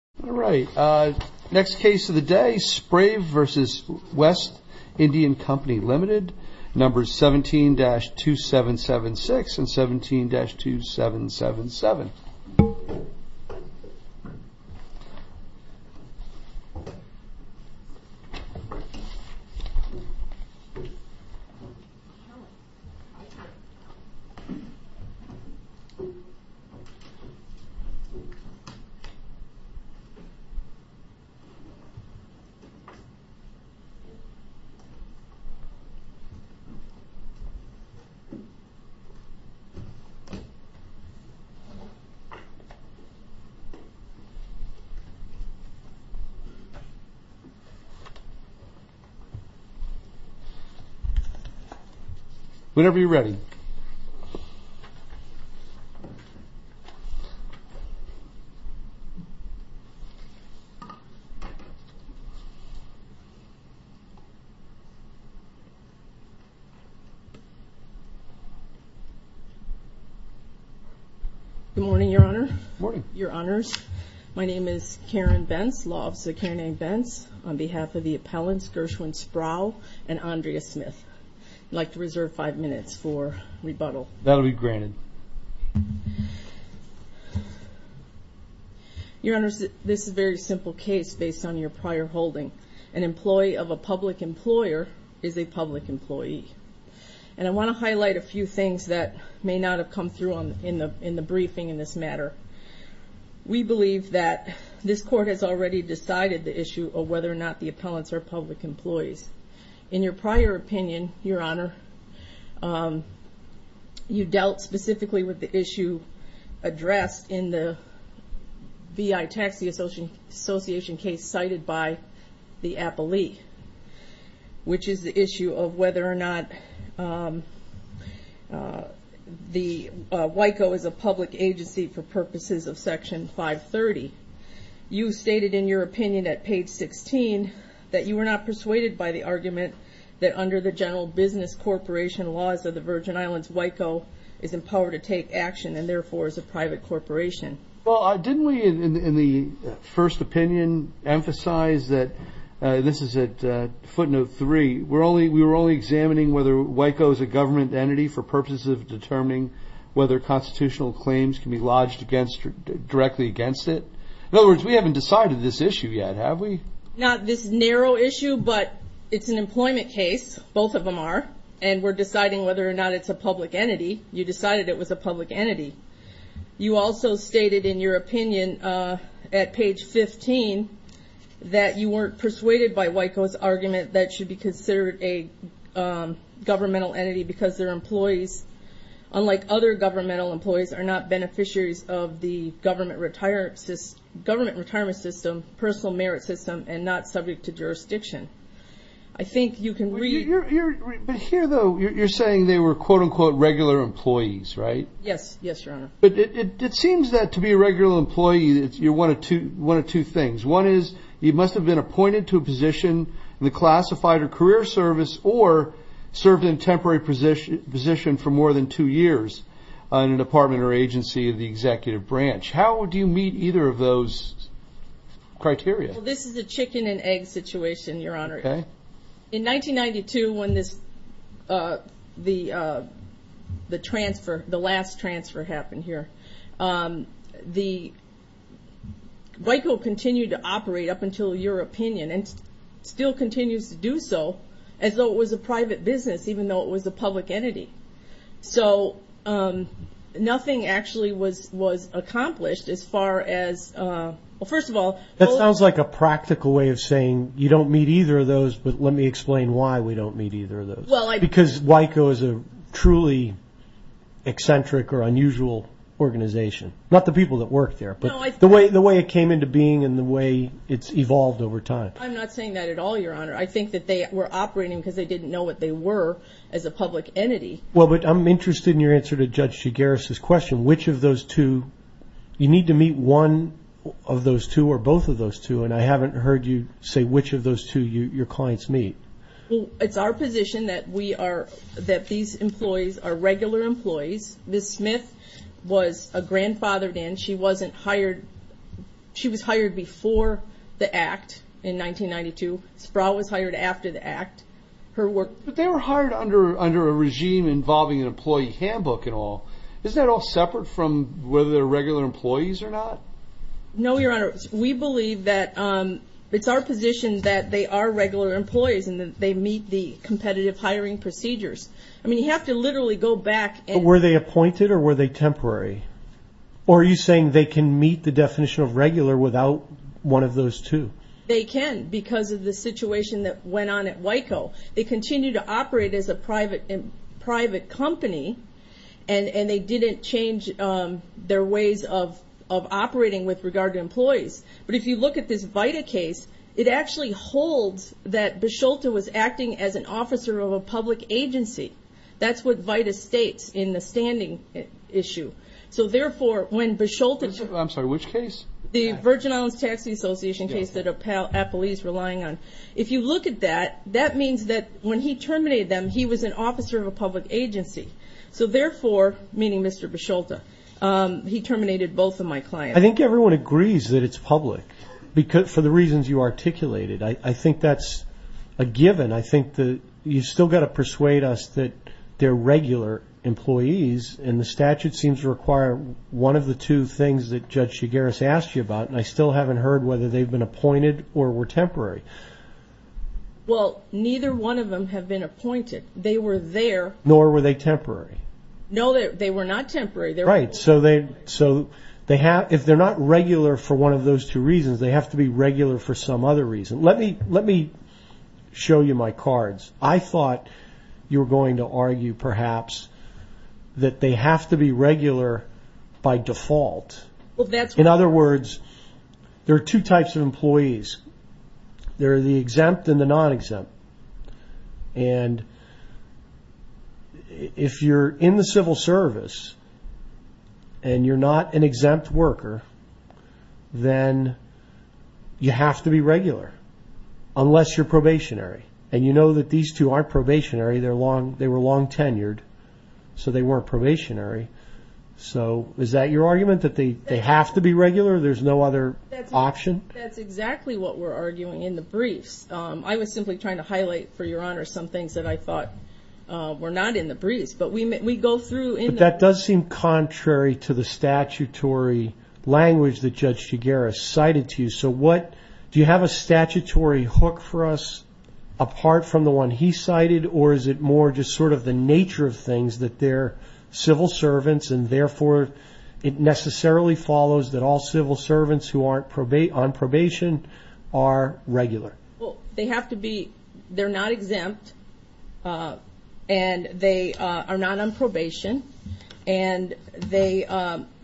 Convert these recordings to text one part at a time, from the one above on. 17-2776, 17-2777 Whenever you're ready. Good morning, Your Honor. Good morning. Your Honors. My name is Karen Bentz, Law Office of Karen A. Bentz. On behalf of the appellants, Gershwin Sprauve and Andrea Smith. I'd like to reserve five minutes for rebuttal. That'll be granted. Your Honors, this is a very simple case based on your prior holding. An employee of a public employer is a public employee. And I want to highlight a few things that may not have come through in the briefing in this matter. We believe that this Court has already decided the issue of whether or not the appellants are public employees. In your prior opinion, Your Honor, you dealt specifically with the issue addressed in the V.I. Taxi Association case cited by the appellee. Which is the issue of whether or not WICO is a public agency for purposes of Section 530. You stated in your opinion at page 16 that you were not persuaded by the argument that under the general business corporation laws of the Virgin Islands, WICO is in power to take action and therefore is a private corporation. Well, didn't we in the first opinion emphasize that, this is at footnote three, we were only examining whether WICO is a government entity for purposes of determining whether constitutional claims can be lodged directly against it. In other words, we haven't decided this issue yet, have we? Not this narrow issue, but it's an employment case, both of them are. And we're deciding whether or not it's a public entity. You decided it was a public entity. You also stated in your opinion at page 15 that you weren't persuaded by WICO's argument that it should be considered a governmental entity because their employees, unlike other governmental employees, are not beneficiaries of the government retirement system, personal merit system, and not subject to jurisdiction. I think you can read... But here though, you're saying they were quote-unquote regular employees, right? Yes, yes, your honor. But it seems that to be a regular employee, you're one of two things. One is, you must have been appointed to a position in the classified or career service, or served in a temporary position for more than two years in a department or agency of the executive branch. How do you meet either of those criteria? Well, this is a chicken and egg situation, your honor. Okay. In 1992, when the last transfer happened here, WICO continued to operate, up until your opinion, and still continues to do so, as though it was a private business, even though it was a public entity. So nothing actually was accomplished as far as... Well, first of all... Let me explain why we don't meet either of those. Because WICO is a truly eccentric or unusual organization. Not the people that work there, but the way it came into being and the way it's evolved over time. I'm not saying that at all, your honor. I think that they were operating because they didn't know what they were as a public entity. Well, but I'm interested in your answer to Judge Shigaris' question, which of those two... You need to meet one of those two or both of those two, and I haven't heard you say which of those two your clients meet. Well, it's our position that these employees are regular employees. Ms. Smith was a grandfathered in. She was hired before the Act in 1992. Sproul was hired after the Act. But they were hired under a regime involving an employee handbook and all. Isn't that all separate from whether they're regular employees or not? No, your honor. We believe that it's our position that they are regular employees and that they meet the competitive hiring procedures. I mean, you have to literally go back and... But were they appointed or were they temporary? Or are you saying they can meet the definition of regular without one of those two? They can because of the situation that went on at WICO. They continue to operate as a private company, and they didn't change their ways of operating with regard to employees. But if you look at this VITA case, it actually holds that Bisholta was acting as an officer of a public agency. That's what VITA states in the standing issue. So, therefore, when Bisholta... I'm sorry, which case? The Virgin Islands Tax Association case that Appalese was relying on. If you look at that, that means that when he terminated them, he was an officer of a public agency. So, therefore, meaning Mr. Bisholta, he terminated both of my clients. I think everyone agrees that it's public for the reasons you articulated. I think that's a given. I think that you've still got to persuade us that they're regular employees, and the statute seems to require one of the two things that Judge Shigaris asked you about, and I still haven't heard whether they've been appointed or were temporary. Well, neither one of them have been appointed. They were there. Nor were they temporary. No, they were not temporary. Right, so if they're not regular for one of those two reasons, they have to be regular for some other reason. Let me show you my cards. I thought you were going to argue, perhaps, that they have to be regular by default. In other words, there are two types of employees. There are the exempt and the non-exempt. And if you're in the civil service and you're not an exempt worker, then you have to be regular unless you're probationary. And you know that these two aren't probationary. They were long tenured, so they weren't probationary. So is that your argument, that they have to be regular? There's no other option? That's exactly what we're arguing in the briefs. I was simply trying to highlight, for your honor, some things that I thought were not in the briefs. But we go through in the briefs. But that does seem contrary to the statutory language that Judge Chiguera cited to you. So do you have a statutory hook for us apart from the one he cited, or is it more just sort of the nature of things that they're civil servants and, therefore, it necessarily follows that all civil servants who aren't on probation are regular? Well, they have to be. They're not exempt, and they are not on probation. And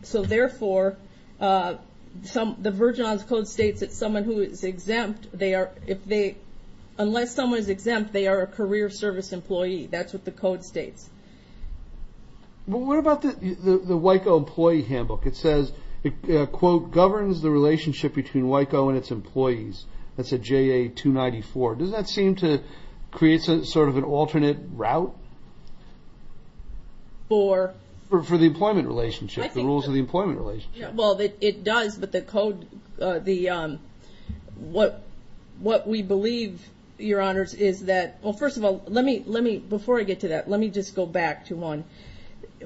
so, therefore, the Virgin Islands Code states that someone who is exempt, unless someone is exempt, they are a career service employee. That's what the code states. Well, what about the WICO employee handbook? It says, quote, governs the relationship between WICO and its employees. That's a JA 294. Doesn't that seem to create sort of an alternate route for the employment relationship, the rules of the employment relationship? Well, it does, but the code, what we believe, your honors, is that, well, first of all, before I get to that, let me just go back to one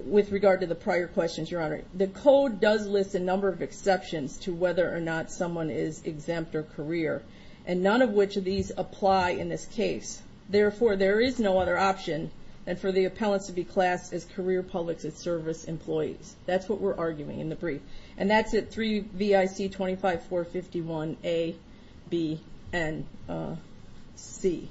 with regard to the prior questions, your honor. The code does list a number of exceptions to whether or not someone is exempt or career, and none of which of these apply in this case. Therefore, there is no other option than for the appellants to be classed as career public service employees. That's what we're arguing in the brief. And that's at 3VIC 25451A, B, and C.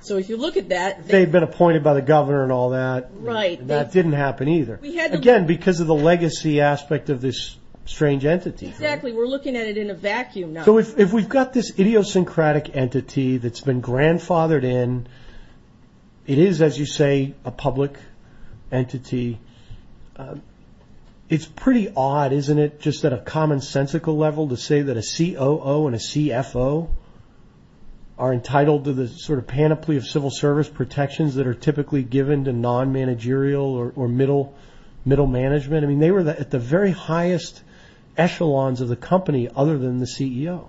So if you look at that. They've been appointed by the governor and all that. Right. That didn't happen either. Again, because of the legacy aspect of this strange entity. Exactly, we're looking at it in a vacuum now. So if we've got this idiosyncratic entity that's been grandfathered in, it is, as you say, a public entity. It's pretty odd, isn't it, just at a commonsensical level, to say that a COO and a CFO are entitled to the sort of panoply of civil service protections that are typically given to non-managerial or middle management. I mean, they were at the very highest echelons of the company other than the CEO.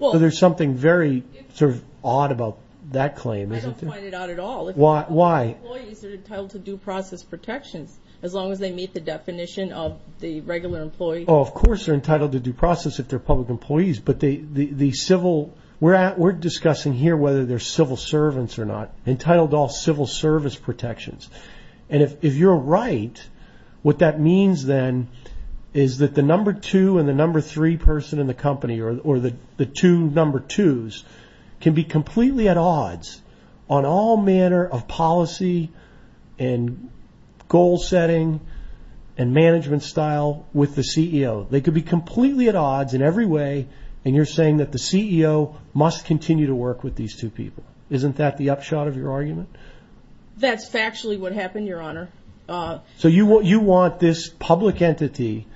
So there's something very sort of odd about that claim, isn't there? I don't find it odd at all. Why? Employees are entitled to due process protections, as long as they meet the definition of the regular employee. Oh, of course they're entitled to due process if they're public employees, but we're discussing here whether they're civil servants or not, entitled to all civil service protections. And if you're right, what that means then is that the number two and the number three person in the company, or the two number twos, can be completely at odds on all manner of policy and goal setting and management style with the CEO. They could be completely at odds in every way, and you're saying that the CEO must continue to work with these two people. Isn't that the upshot of your argument? That's factually what happened, Your Honor. So you want this public entity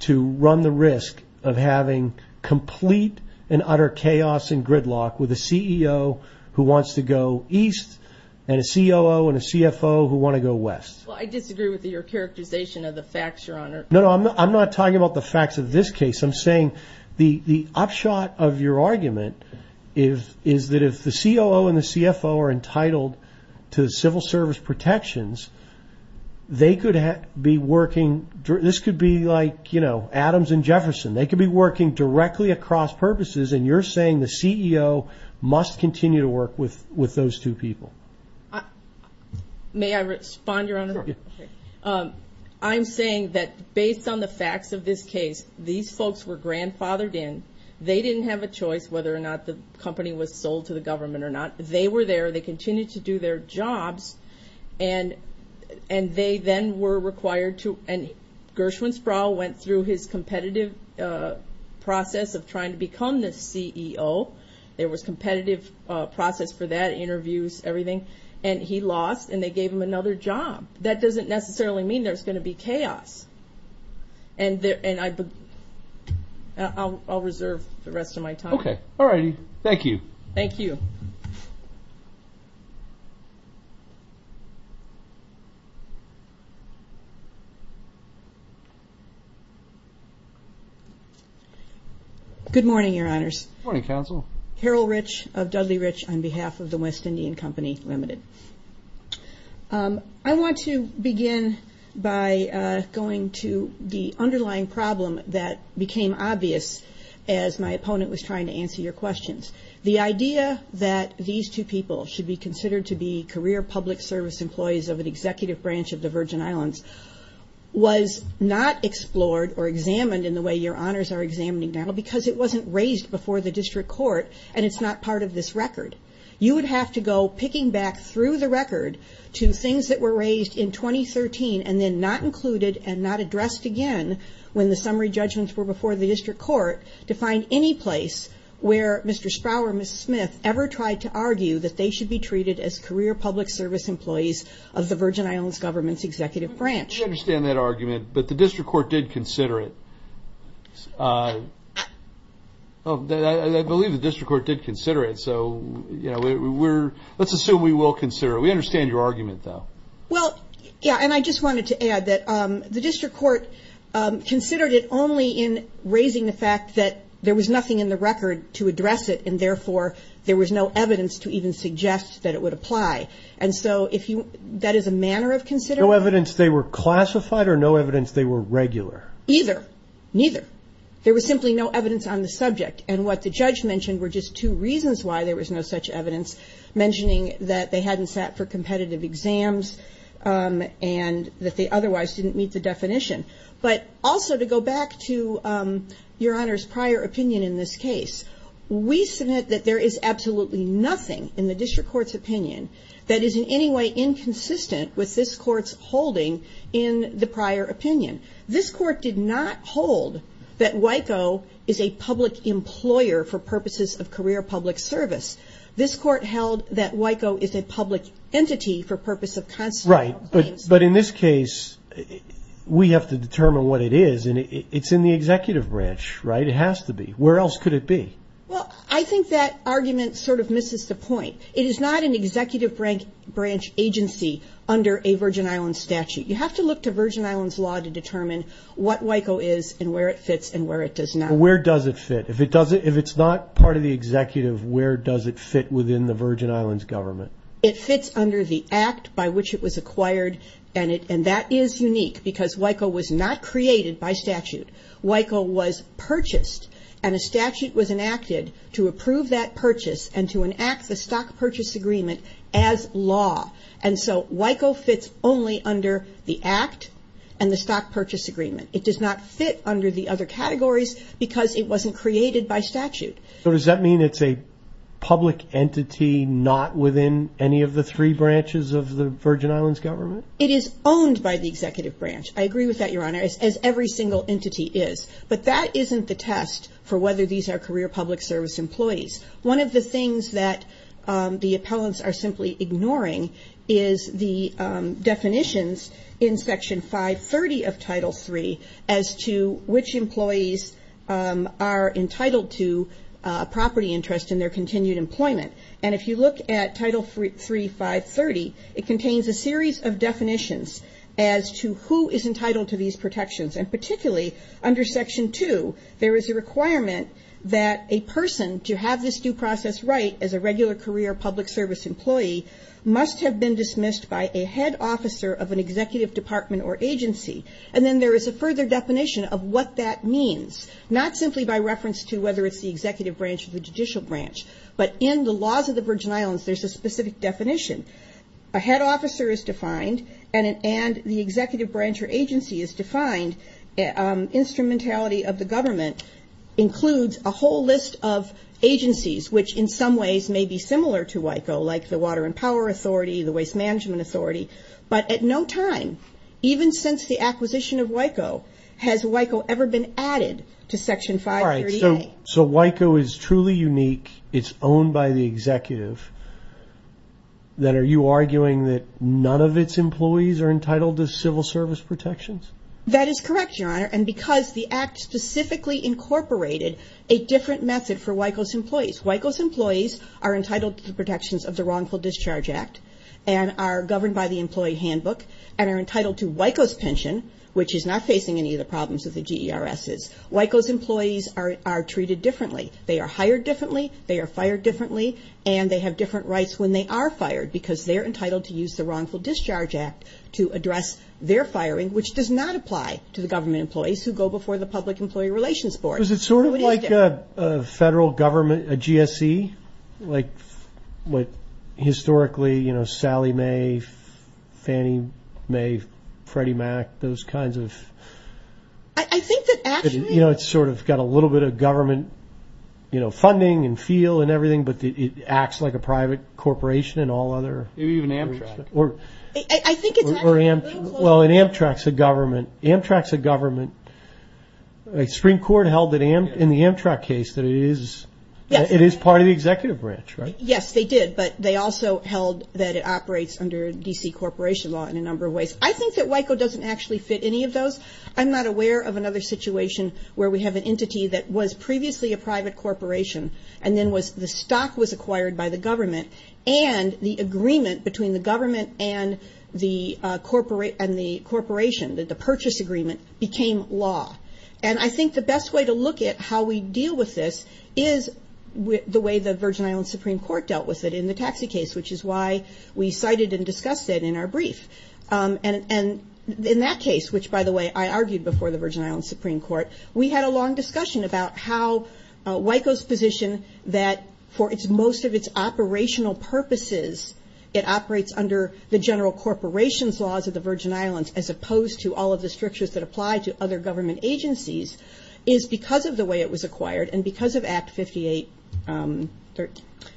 to run the risk of having complete and utter chaos and gridlock with a CEO who wants to go east and a COO and a CFO who want to go west. Well, I disagree with your characterization of the facts, Your Honor. No, I'm not talking about the facts of this case. I'm saying the upshot of your argument is that if the COO and the CFO are entitled to civil service protections, this could be like Adams and Jefferson. They could be working directly across purposes, and you're saying the CEO must continue to work with those two people. May I respond, Your Honor? Sure. I'm saying that based on the facts of this case, these folks were grandfathered in. They didn't have a choice whether or not the company was sold to the government or not. They were there. They continued to do their jobs, and they then were required to, and Gershwin Sproul went through his competitive process of trying to become the CEO. There was competitive process for that, interviews, everything, and he lost and they gave him another job. That doesn't necessarily mean there's going to be chaos. And I'll reserve the rest of my time. Okay. All righty. Thank you. Thank you. Good morning, Your Honors. Good morning, Counsel. Harold Rich of Dudley Rich on behalf of the West Indian Company Limited. I want to begin by going to the underlying problem that became obvious as my opponent was trying to answer your questions. The idea that these two people should be considered to be career public service employees of an executive branch of the Virgin Islands was not explored or examined in the way Your Honors are examining now because it wasn't raised before the district court and it's not part of this record. You would have to go picking back through the record to things that were raised in 2013 and then not included and not addressed again when the summary judgments were before the district court to find any place where Mr. Sproul or Ms. Smith ever tried to argue that they should be treated as career public service employees of the Virgin Islands government's executive branch. I understand that argument, but the district court did consider it. I believe the district court did consider it, so let's assume we will consider it. We understand your argument, though. Well, yeah, and I just wanted to add that the district court considered it only in raising the fact that there was nothing in the record to address it and therefore there was no evidence to even suggest that it would apply. And so that is a manner of considering it? No evidence they were classified or no evidence they were regular? Either, neither. There was simply no evidence on the subject and what the judge mentioned were just two reasons why there was no such evidence, mentioning that they hadn't sat for competitive exams and that they otherwise didn't meet the definition. But also to go back to Your Honors' prior opinion in this case, we submit that there is absolutely nothing in the district court's opinion that is in any way inconsistent with this court's holding in the prior opinion. This court did not hold that WICO is a public employer for purposes of career public service. This court held that WICO is a public entity for purposes of constitutional claims. Right, but in this case, we have to determine what it is, and it's in the executive branch, right? It has to be. Where else could it be? Well, I think that argument sort of misses the point. It is not an executive branch agency under a Virgin Islands statute. You have to look to Virgin Islands law to determine what WICO is and where it fits and where it does not. Where does it fit? If it's not part of the executive, where does it fit within the Virgin Islands government? It fits under the act by which it was acquired, and that is unique because WICO was not created by statute. WICO was purchased, and a statute was enacted to approve that purchase and to enact the stock purchase agreement as law, and so WICO fits only under the act and the stock purchase agreement. It does not fit under the other categories because it wasn't created by statute. So does that mean it's a public entity not within any of the three branches of the Virgin Islands government? It is owned by the executive branch. I agree with that, Your Honor, as every single entity is, but that isn't the test for whether these are career public service employees. One of the things that the appellants are simply ignoring is the definitions in Section 530 of Title III as to which employees are entitled to property interest in their continued employment, and if you look at Title III, 530, it contains a series of definitions as to who is entitled to these protections, and particularly under Section 2, there is a requirement that a person to have this due process right as a regular career public service employee must have been dismissed by a head officer of an executive department or agency, and then there is a further definition of what that means, not simply by reference to whether it's the executive branch or the judicial branch, but in the laws of the Virgin Islands, there's a specific definition. A head officer is defined, and the executive branch or agency is defined. Instrumentality of the government includes a whole list of agencies, which in some ways may be similar to WICO, like the Water and Power Authority, the Waste Management Authority, but at no time, even since the acquisition of WICO, has WICO ever been added to Section 530A. All right, so WICO is truly unique. It's owned by the executive. Then are you arguing that none of its employees are entitled to civil service protections? That is correct, Your Honor, and because the Act specifically incorporated a different method for WICO's employees. WICO's employees are entitled to the protections of the Wrongful Discharge Act and are governed by the Employee Handbook and are entitled to WICO's pension, which is not facing any of the problems that the GERS is. WICO's employees are treated differently. They are hired differently, they are fired differently, and they have different rights when they are fired because they're entitled to use the Wrongful Discharge Act to address their firing, which does not apply to the government employees who go before the Public Employee Relations Board. Is it sort of like a federal government, a GSE? Like what historically, you know, Sally Mae, Fannie Mae, Freddie Mac, those kinds of... I think that actually... You know, it's sort of got a little bit of government, you know, funding and feel and everything, but it acts like a private corporation and all other... Maybe even Amtrak. Or Amtrak. Well, and Amtrak's a government. Amtrak's a government. The Supreme Court held in the Amtrak case that it is part of the executive branch, right? Yes, they did, but they also held that it operates under D.C. corporation law in a number of ways. I think that WICO doesn't actually fit any of those. I'm not aware of another situation where we have an entity that was previously a private corporation and then the stock was acquired by the government and the agreement between the government and the corporation, the purchase agreement, became law. And I think the best way to look at how we deal with this is the way the Virgin Islands Supreme Court dealt with it in the taxi case, which is why we cited and discussed it in our brief. And in that case, which, by the way, I argued before the Virgin Islands Supreme Court, we had a long discussion about how WICO's position that for most of its operational purposes, it operates under the general corporations laws of the Virgin Islands as opposed to all of the strictures that apply to other government agencies, is because of the way it was acquired and because of Act 58...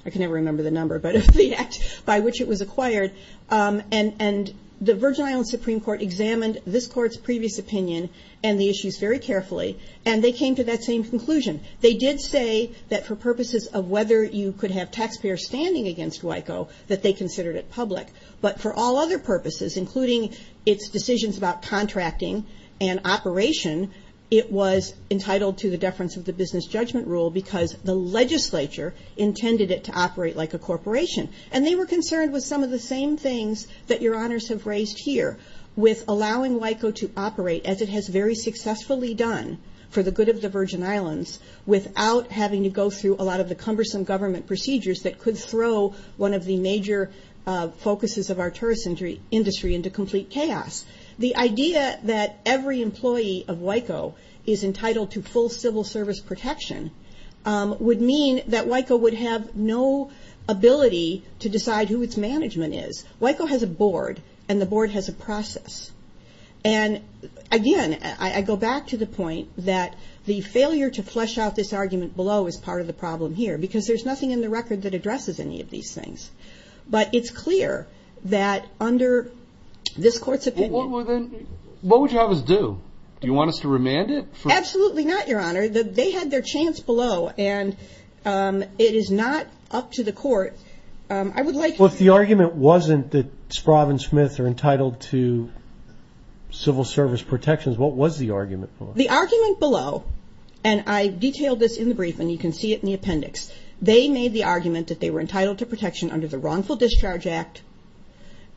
I can never remember the number, but the Act by which it was acquired. And the Virgin Islands Supreme Court examined this court's previous opinion and the issues very carefully, and they came to that same conclusion. They did say that for purposes of whether you could have taxpayers standing against WICO, that they considered it public. But for all other purposes, including its decisions about contracting and operation, it was entitled to the deference of the business judgment rule because the legislature intended it to operate like a corporation. And they were concerned with some of the same things that your honors have raised here, with allowing WICO to operate as it has very successfully done for the good of the Virgin Islands without having to go through a lot of the cumbersome government procedures that could throw one of the major focuses of our tourist industry into complete chaos. The idea that every employee of WICO is entitled to full civil service protection would mean that WICO would have no ability to decide who its management is. WICO has a board, and the board has a process. And again, I go back to the point that the failure to flesh out this argument below is part of the problem here because there's nothing in the record that addresses any of these things. But it's clear that under this court's opinion... What would you have us do? Do you want us to remand it? Absolutely not, your honor. They had their chance below, and it is not up to the court. I would like... Well, if the argument wasn't that Sprave and Smith are entitled to civil service protections, what was the argument below? The argument below, and I detailed this in the brief, and you can see it in the appendix, they made the argument that they were entitled to protection under the Wrongful Discharge Act,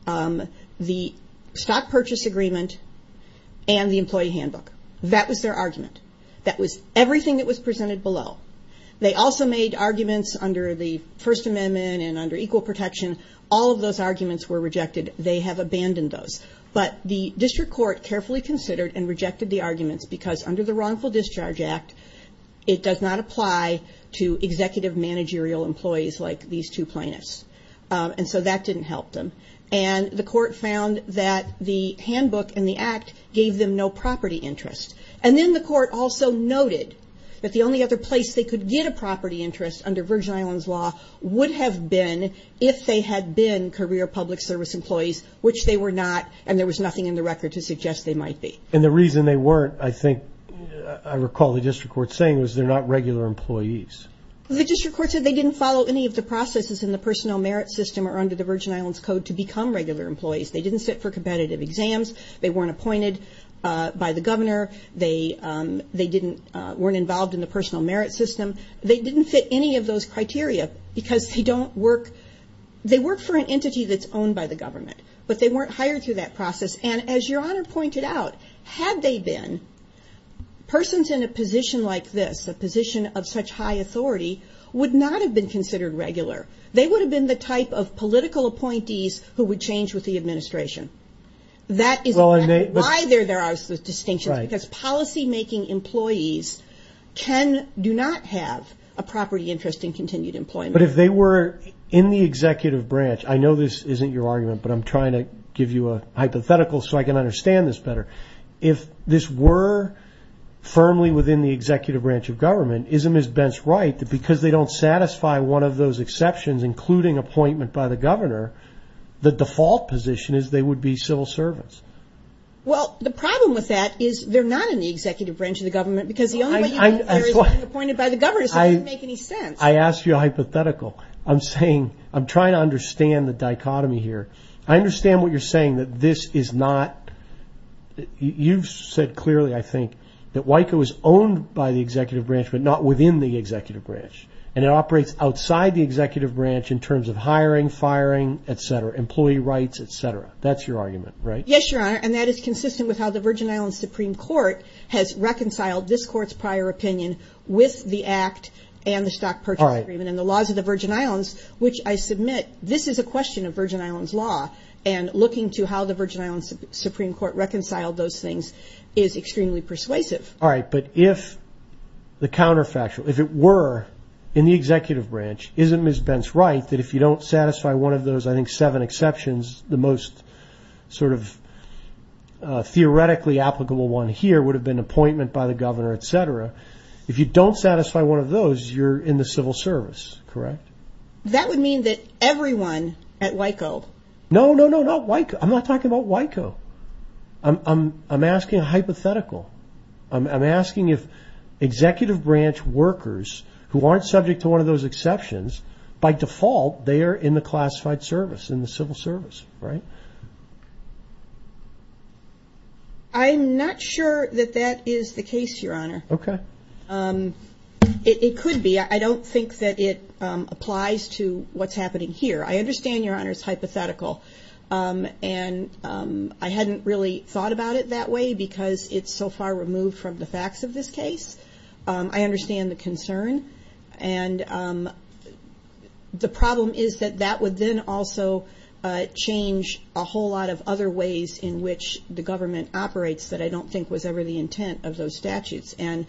the Stock Purchase Agreement, and the Employee Handbook. That was their argument. That was everything that was presented below. They also made arguments under the First Amendment and under Equal Protection. All of those arguments were rejected. They have abandoned those. But the district court carefully considered and rejected the arguments because under the Wrongful Discharge Act, it does not apply to executive managerial employees like these two plaintiffs. And so that didn't help them. And the court found that the handbook and the act gave them no property interest. And then the court also noted that the only other place they could get a property interest under Virgin Islands law would have been if they had been career public service employees, which they were not, and there was nothing in the record to suggest they might be. And the reason they weren't, I think, I recall the district court saying, was they're not regular employees. The district court said they didn't follow any of the processes in the personal merit system or under the Virgin Islands Code to become regular employees. They didn't sit for competitive exams. They weren't appointed by the governor. They weren't involved in the personal merit system. They didn't fit any of those criteria because they don't work. They work for an entity that's owned by the government, but they weren't hired through that process. And as Your Honor pointed out, had they been, persons in a position like this, a position of such high authority, would not have been considered regular. They would have been the type of political appointees who would change with the administration. That is why there are those distinctions, because policymaking employees do not have a property interest in continued employment. But if they were in the executive branch, I know this isn't your argument, but I'm trying to give you a hypothetical so I can understand this better. If this were firmly within the executive branch of government, isn't Ms. Bentz right that because they don't satisfy one of those exceptions, including appointment by the governor, the default position is they would be civil servants? Well, the problem with that is they're not in the executive branch of the government because the only way you know they're being appointed by the governor doesn't make any sense. I asked you a hypothetical. I'm saying, I'm trying to understand the dichotomy here. I understand what you're saying, that this is not, you've said clearly, I think, that WICO is owned by the executive branch but not within the executive branch, and it operates outside the executive branch in terms of hiring, firing, etc., employee rights, etc. That's your argument, right? Yes, Your Honor, and that is consistent with how the Virgin Islands Supreme Court has reconciled this court's prior opinion with the Act and the Stock Purchase Agreement and the laws of the Virgin Islands, which I submit, this is a question of Virgin Islands law, and looking to how the Virgin Islands Supreme Court reconciled those things is extremely persuasive. All right, but if the counterfactual, if it were in the executive branch, isn't Ms. Bentz right that if you don't satisfy one of those, I think, seven exceptions, the most sort of theoretically applicable one here would have been appointment by the governor, etc. If you don't satisfy one of those, you're in the civil service, correct? That would mean that everyone at WICO. No, no, no, not WICO. I'm not talking about WICO. I'm asking a hypothetical. I'm asking if executive branch workers who aren't subject to one of those exceptions, by default they are in the classified service, in the civil service, right? I'm not sure that that is the case, Your Honor. Okay. It could be. I don't think that it applies to what's happening here. I understand, Your Honor, it's hypothetical. And I hadn't really thought about it that way because it's so far removed from the facts of this case. I understand the concern. And the problem is that that would then also change a whole lot of other ways in which the government operates that I don't think was ever the intent of those statutes. And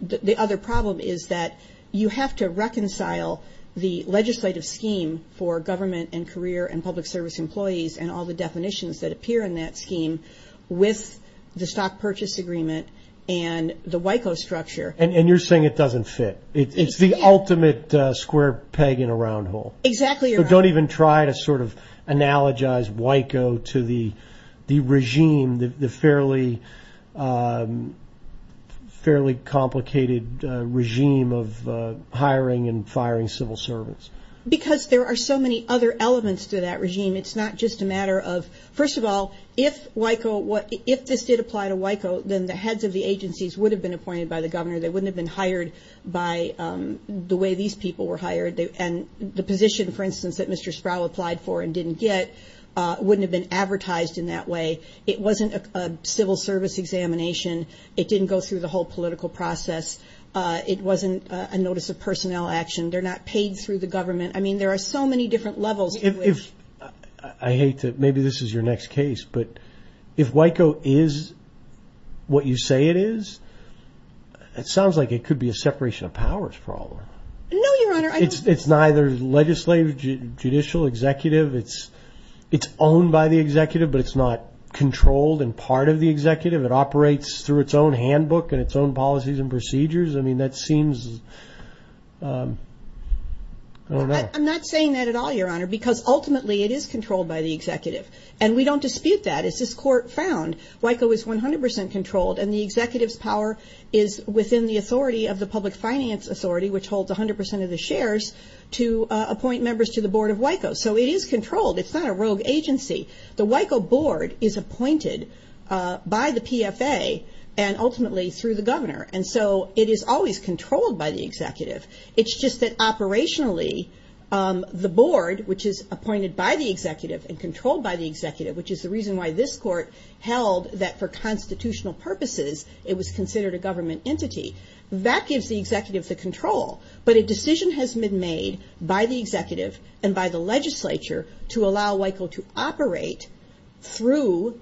the other problem is that you have to reconcile the legislative scheme for government and career and public service employees and all the definitions that appear in that scheme with the stock purchase agreement and the WICO structure. And you're saying it doesn't fit. It's the ultimate square peg in a round hole. Exactly, Your Honor. So don't even try to sort of analogize WICO to the regime, the fairly complicated regime of hiring and firing civil servants. Because there are so many other elements to that regime. It's not just a matter of, first of all, if WICO, if this did apply to WICO, then the heads of the agencies would have been appointed by the governor. They wouldn't have been hired by the way these people were hired. And the position, for instance, that Mr. Sproul applied for and didn't get wouldn't have been advertised in that way. It wasn't a civil service examination. It didn't go through the whole political process. It wasn't a notice of personnel action. They're not paid through the government. I mean, there are so many different levels. I hate to, maybe this is your next case, but if WICO is what you say it is, it sounds like it could be a separation of powers problem. No, Your Honor. It's neither legislative, judicial, executive. It's owned by the executive, but it's not controlled and part of the executive. It operates through its own handbook and its own policies and procedures. I mean, that seems, I don't know. I'm not saying that at all, Your Honor, because ultimately it is controlled by the executive. And we don't dispute that. As this court found, WICO is 100 percent controlled, and the executive's power is within the authority of the public finance authority, which holds 100 percent of the shares, to appoint members to the board of WICO. So it is controlled. It's not a rogue agency. The WICO board is appointed by the PFA and ultimately through the governor. And so it is always controlled by the executive. It's just that operationally the board, which is appointed by the executive and controlled by the executive, which is the reason why this court held that for constitutional purposes, it was considered a government entity. That gives the executive the control. But a decision has been made by the executive and by the legislature to allow WICO to operate through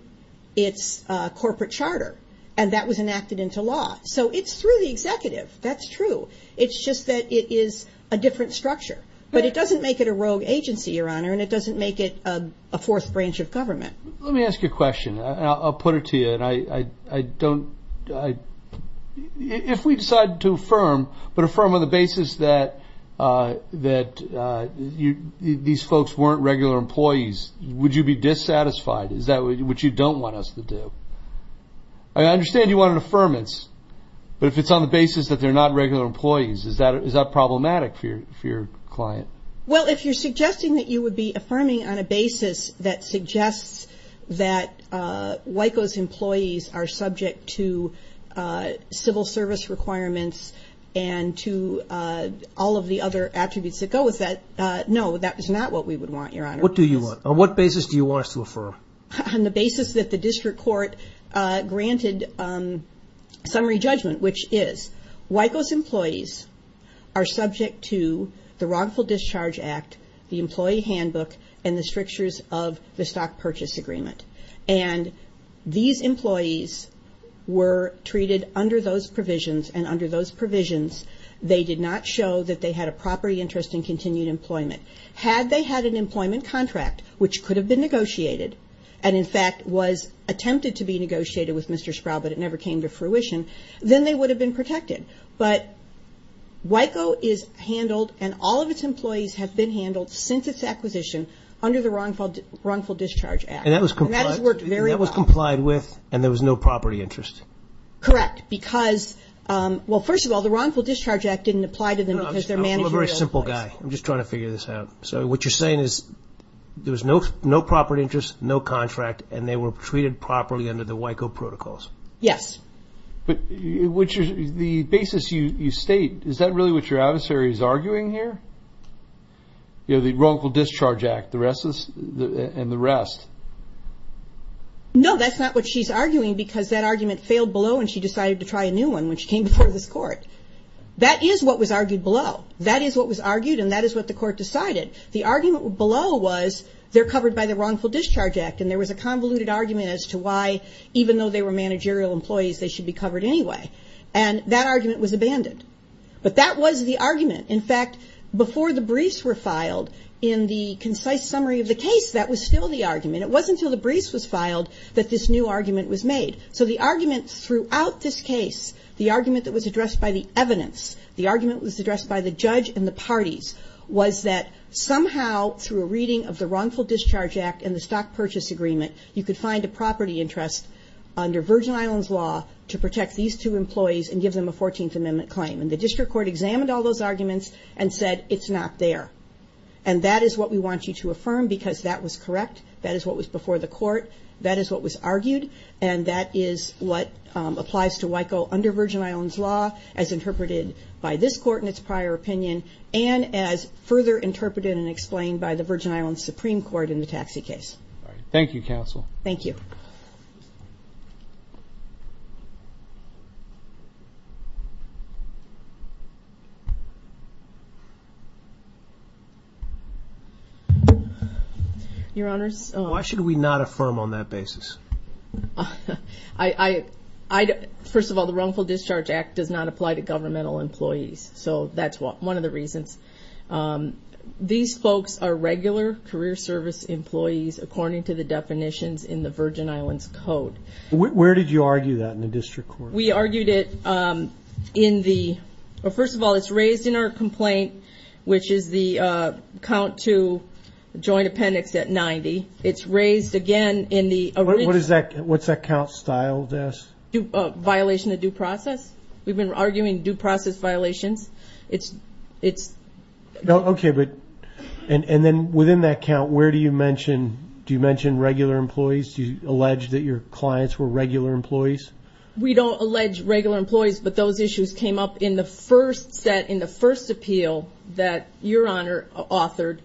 its corporate charter, and that was enacted into law. So it's through the executive. That's true. It's just that it is a different structure. But it doesn't make it a rogue agency, Your Honor, and it doesn't make it a fourth branch of government. Let me ask you a question, and I'll put it to you. And I don't – if we decide to affirm, but affirm on the basis that these folks weren't regular employees, would you be dissatisfied? Is that what you don't want us to do? I understand you want an affirmance, but if it's on the basis that they're not regular employees, is that problematic for your client? Well, if you're suggesting that you would be affirming on a basis that suggests that WICO's employees are subject to civil service requirements and to all of the other attributes that go with that, no, that is not what we would want, Your Honor. What do you want? On what basis do you want us to affirm? On the basis that the district court granted summary judgment, which is, WICO's employees are subject to the Wrongful Discharge Act, the Employee Handbook, and the strictures of the Stock Purchase Agreement. And these employees were treated under those provisions, and under those provisions they did not show that they had a property interest in continued employment. Had they had an employment contract, which could have been negotiated, and in fact was attempted to be negotiated with Mr. Sproul, but it never came to fruition, then they would have been protected. But WICO is handled, and all of its employees have been handled since its acquisition under the Wrongful Discharge Act. And that has worked very well. And that was complied with, and there was no property interest? Correct. Because, well, first of all, the Wrongful Discharge Act didn't apply to them because they're managing their employees. I'm a very simple guy. I'm just trying to figure this out. So what you're saying is there was no property interest, no contract, and they were treated properly under the WICO protocols? Yes. But the basis you state, is that really what your adversary is arguing here? You know, the Wrongful Discharge Act and the rest? No, that's not what she's arguing because that argument failed below and she decided to try a new one when she came before this court. That is what was argued below. That is what was argued, and that is what the court decided. The argument below was they're covered by the Wrongful Discharge Act, and there was a convoluted argument as to why, even though they were managerial employees, they should be covered anyway. And that argument was abandoned. But that was the argument. In fact, before the briefs were filed, in the concise summary of the case, that was still the argument. It wasn't until the briefs was filed that this new argument was made. So the argument throughout this case, the argument that was addressed by the evidence, the argument that was addressed by the judge and the parties, was that somehow through a reading of the Wrongful Discharge Act and the Stock Purchase Agreement, you could find a property interest under Virgin Islands law to protect these two employees and give them a 14th Amendment claim. And the district court examined all those arguments and said it's not there. And that is what we want you to affirm because that was correct. That is what was before the court. That is what was argued. And that is what applies to WICO under Virgin Islands law, as interpreted by this court in its prior opinion, and as further interpreted and explained by the Virgin Islands Supreme Court in the taxi case. Thank you, counsel. Thank you. Your Honors. Why should we not affirm on that basis? First of all, the Wrongful Discharge Act does not apply to governmental employees. So that's one of the reasons. These folks are regular career service employees, according to the definitions in the Virgin Islands Code. Where did you argue that in the district court? We argued it in the – first of all, it's raised in our complaint, which is the count to joint appendix at 90. It's raised, again, in the – What's that count style, Des? Violation of due process. We've been arguing due process violations. Okay, but – and then within that count, where do you mention – do you mention regular employees? Do you allege that your clients were regular employees? We don't allege regular employees, but those issues came up in the first set, in the first appeal that Your Honor authored.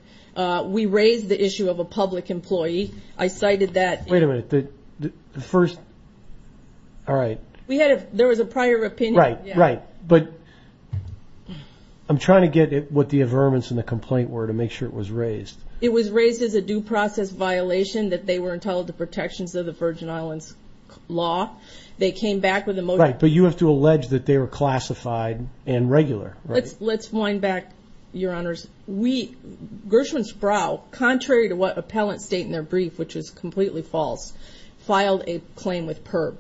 We raised the issue of a public employee. I cited that. Wait a minute. The first – all right. We had a – there was a prior opinion. Right, right. But I'm trying to get what the averments in the complaint were to make sure it was raised. It was raised as a due process violation, that they were entitled to protections of the Virgin Islands law. They came back with a – Right, but you have to allege that they were classified and regular, right? Let's wind back, Your Honors. We – Gershwin Sproul, contrary to what appellants state in their brief, which was completely false, filed a claim with PIRB,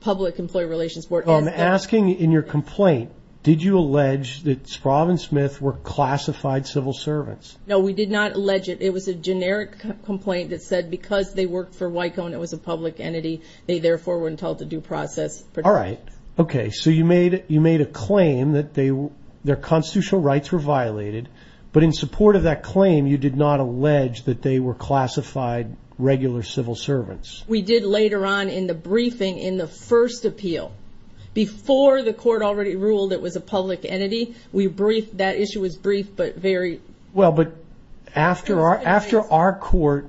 Public Employee Relations Board. I'm asking in your complaint, did you allege that Sproul and Smith were classified civil servants? No, we did not allege it. It was a generic complaint that said because they worked for WICO and it was a public entity, they therefore were entitled to due process protections. All right. Okay, so you made a claim that their constitutional rights were violated, but in support of that claim, you did not allege that they were classified regular civil servants. We did later on in the briefing in the first appeal. Before the court already ruled it was a public entity, we briefed – that issue was briefed, but very – Well, but after our court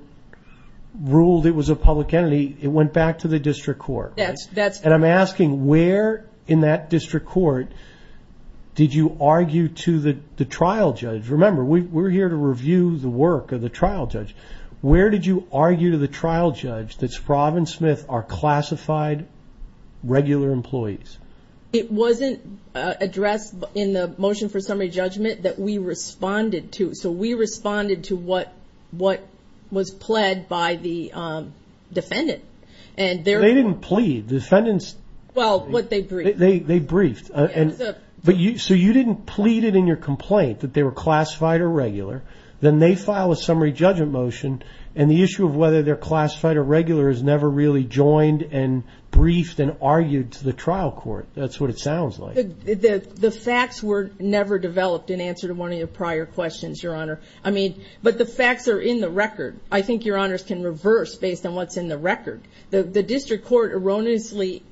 ruled it was a public entity, it went back to the district court, right? That's – And I'm asking where in that district court did you argue to the trial judge? Remember, we're here to review the work of the trial judge. Where did you argue to the trial judge that Sproul and Smith are classified regular employees? It wasn't addressed in the motion for summary judgment that we responded to. So we responded to what was pled by the defendant. They didn't plead. The defendants – Well, what they briefed. They briefed. So you didn't plead it in your complaint that they were classified or regular. Then they file a summary judgment motion, and the issue of whether they're classified or regular is never really joined and briefed and argued to the trial court. That's what it sounds like. The facts were never developed in answer to one of your prior questions, Your Honor. I mean, but the facts are in the record. I think Your Honors can reverse based on what's in the record. The district court erroneously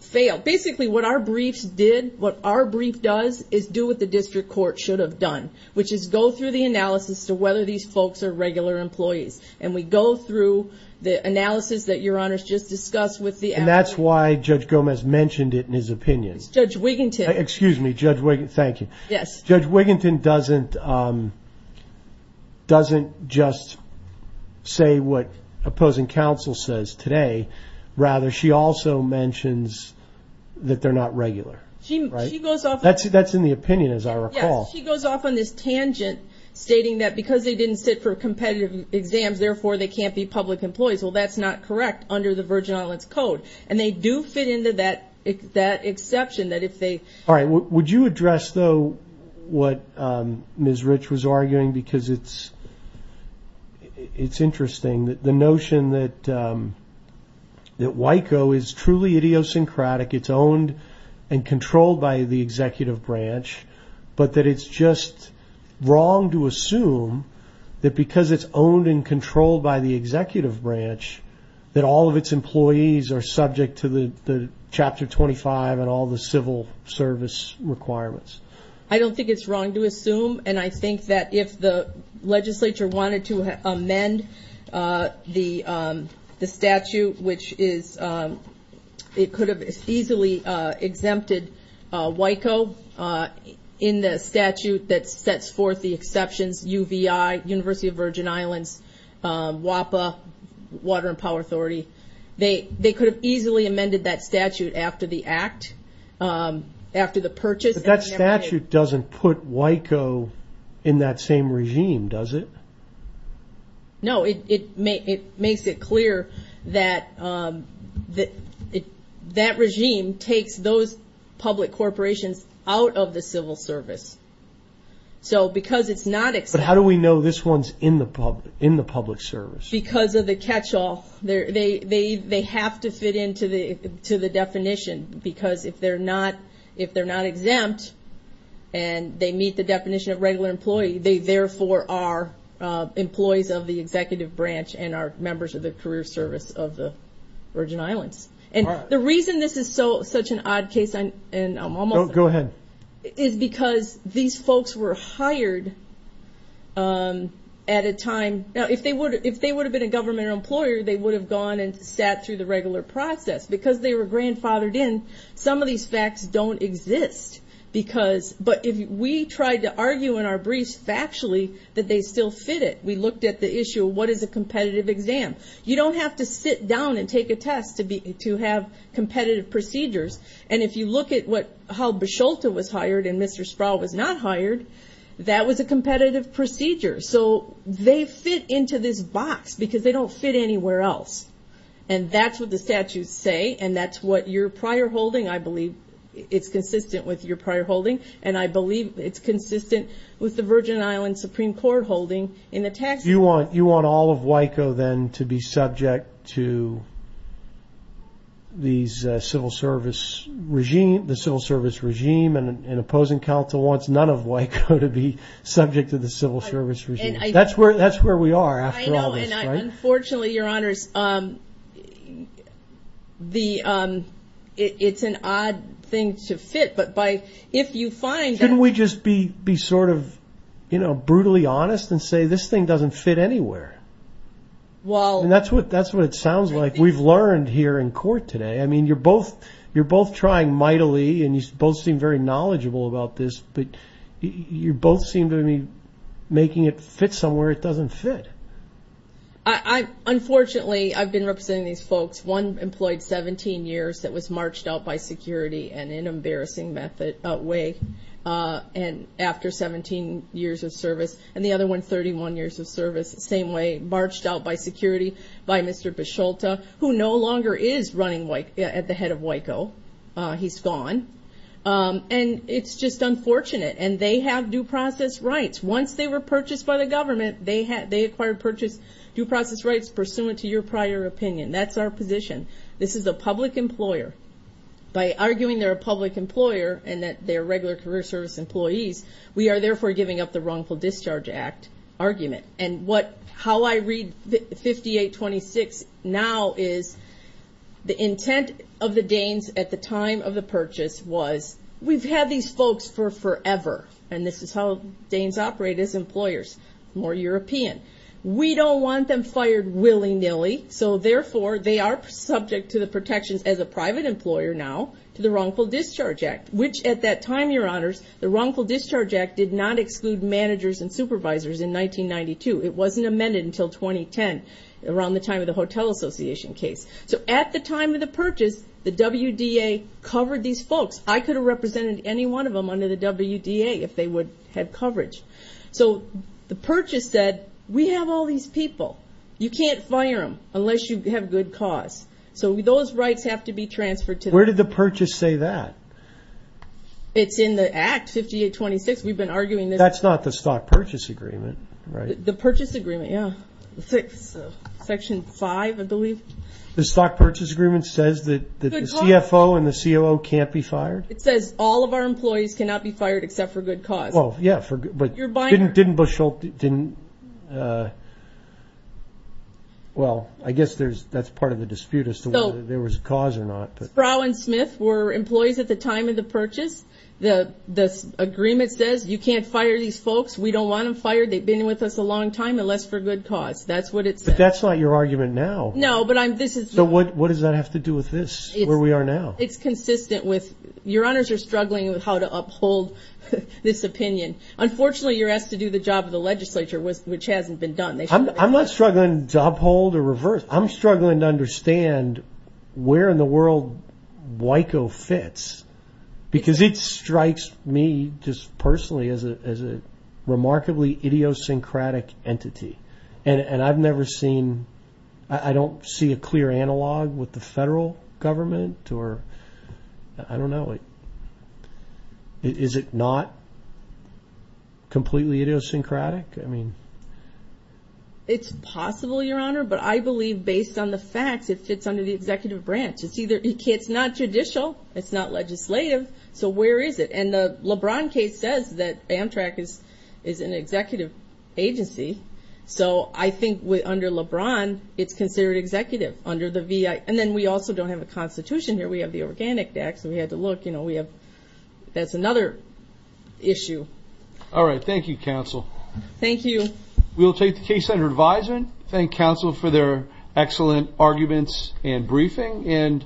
failed. Basically, what our briefs did, what our brief does, is do what the district court should have done, which is go through the analysis to whether these folks are regular employees. And we go through the analysis that Your Honors just discussed with the applicant. And that's why Judge Gomez mentioned it in his opinion. Judge Wiginton. Excuse me, Judge Wiginton. Thank you. Yes. Judge Wiginton doesn't just say what opposing counsel says today. Rather, she also mentions that they're not regular. She goes off on this. That's in the opinion, as I recall. Yes. She goes off on this tangent, stating that because they didn't sit for competitive exams, therefore, they can't be public employees. Well, that's not correct under the Virgin Islands Code. And they do fit into that exception. All right. Would you address, though, what Ms. Rich was arguing? Because it's interesting, the notion that WICO is truly idiosyncratic. It's owned and controlled by the executive branch. But that it's just wrong to assume that because it's owned and controlled by the executive branch, that all of its employees are subject to the Chapter 25 and all the civil service requirements. I don't think it's wrong to assume. And I think that if the legislature wanted to amend the statute, which it could have easily exempted WICO in the statute that sets forth the exceptions, UVI, University of Virgin Islands, WAPA, Water and Power Authority, they could have easily amended that statute after the act, after the purchase. But that statute doesn't put WICO in that same regime, does it? No. It makes it clear that that regime takes those public corporations out of the civil service. So because it's not exempt. But how do we know this one's in the public service? Because of the catch-all. They have to fit into the definition. Because if they're not exempt and they meet the definition of regular employee, they therefore are employees of the executive branch and are members of the career service of the Virgin Islands. And the reason this is such an odd case is because these folks were hired at a time. Now, if they would have been a government employer, they would have gone and sat through the regular process. Because they were grandfathered in, some of these facts don't exist. But we tried to argue in our briefs factually that they still fit it. We looked at the issue of what is a competitive exam. You don't have to sit down and take a test to have competitive procedures. And if you look at how Bisholta was hired and Mr. Sproul was not hired, that was a competitive procedure. So they fit into this box because they don't fit anywhere else. And that's what the statutes say. And that's what your prior holding, I believe, it's consistent with your prior holding. And I believe it's consistent with the Virgin Islands Supreme Court holding in the tax law. You want all of WICO, then, to be subject to the civil service regime. And an opposing counsel wants none of WICO to be subject to the civil service regime. That's where we are after all this, right? Unfortunately, your honors, it's an odd thing to fit. Shouldn't we just be sort of brutally honest and say this thing doesn't fit anywhere? That's what it sounds like. We've learned here in court today. You're both trying mightily and you both seem very knowledgeable about this. But you both seem to be making it fit somewhere it doesn't fit. Unfortunately, I've been representing these folks. One employed 17 years that was marched out by security in an embarrassing way after 17 years of service. And the other one, 31 years of service, same way, marched out by security by Mr. Bicholta, who no longer is running at the head of WICO. He's gone. And it's just unfortunate. And they have due process rights. Once they were purchased by the government, they acquired due process rights pursuant to your prior opinion. That's our position. This is a public employer. By arguing they're a public employer and that they're regular career service employees, we are therefore giving up the Wrongful Discharge Act argument. And how I read 5826 now is the intent of the Danes at the time of the purchase was, we've had these folks for forever, and this is how Danes operate as employers, more European. We don't want them fired willy-nilly, so therefore they are subject to the protections as a private employer now to the Wrongful Discharge Act, which at that time, your honors, the Wrongful Discharge Act did not exclude managers and supervisors in 1992. It wasn't amended until 2010, around the time of the Hotel Association case. So at the time of the purchase, the WDA covered these folks. I could have represented any one of them under the WDA if they would have coverage. So the purchase said, we have all these people. You can't fire them unless you have good cause. So those rights have to be transferred to them. Where did the purchase say that? It's in the Act 5826. We've been arguing this. That's not the Stock Purchase Agreement, right? The Purchase Agreement, yeah, Section 5, I believe. The Stock Purchase Agreement says that the CFO and the COO can't be fired? It says all of our employees cannot be fired except for good cause. Well, yeah, but didn't Bushell – well, I guess that's part of the dispute as to whether there was cause or not. Sproul and Smith were employees at the time of the purchase. The agreement says you can't fire these folks. We don't want them fired. They've been with us a long time, unless for good cause. That's what it says. But that's not your argument now. No, but I'm – this is – So what does that have to do with this, where we are now? It's consistent with – your honors are struggling with how to uphold this opinion. Unfortunately, you're asked to do the job of the legislature, which hasn't been done. I'm not struggling to uphold or reverse. I'm struggling to understand where in the world WICO fits because it strikes me just personally as a remarkably idiosyncratic entity. And I've never seen – I don't see a clear analog with the federal government or – I don't know. Is it not completely idiosyncratic? I mean – It's possible, your honor, but I believe based on the facts it fits under the executive branch. It's either – it's not judicial. It's not legislative. So where is it? And the LeBron case says that Amtrak is an executive agency. So I think under LeBron, it's considered executive under the VI. And then we also don't have a constitution here. We have the Organic Act, so we had to look. We have – that's another issue. All right. Thank you, counsel. Thank you. We'll take the case under advisement. Thank counsel for their excellent arguments and briefing.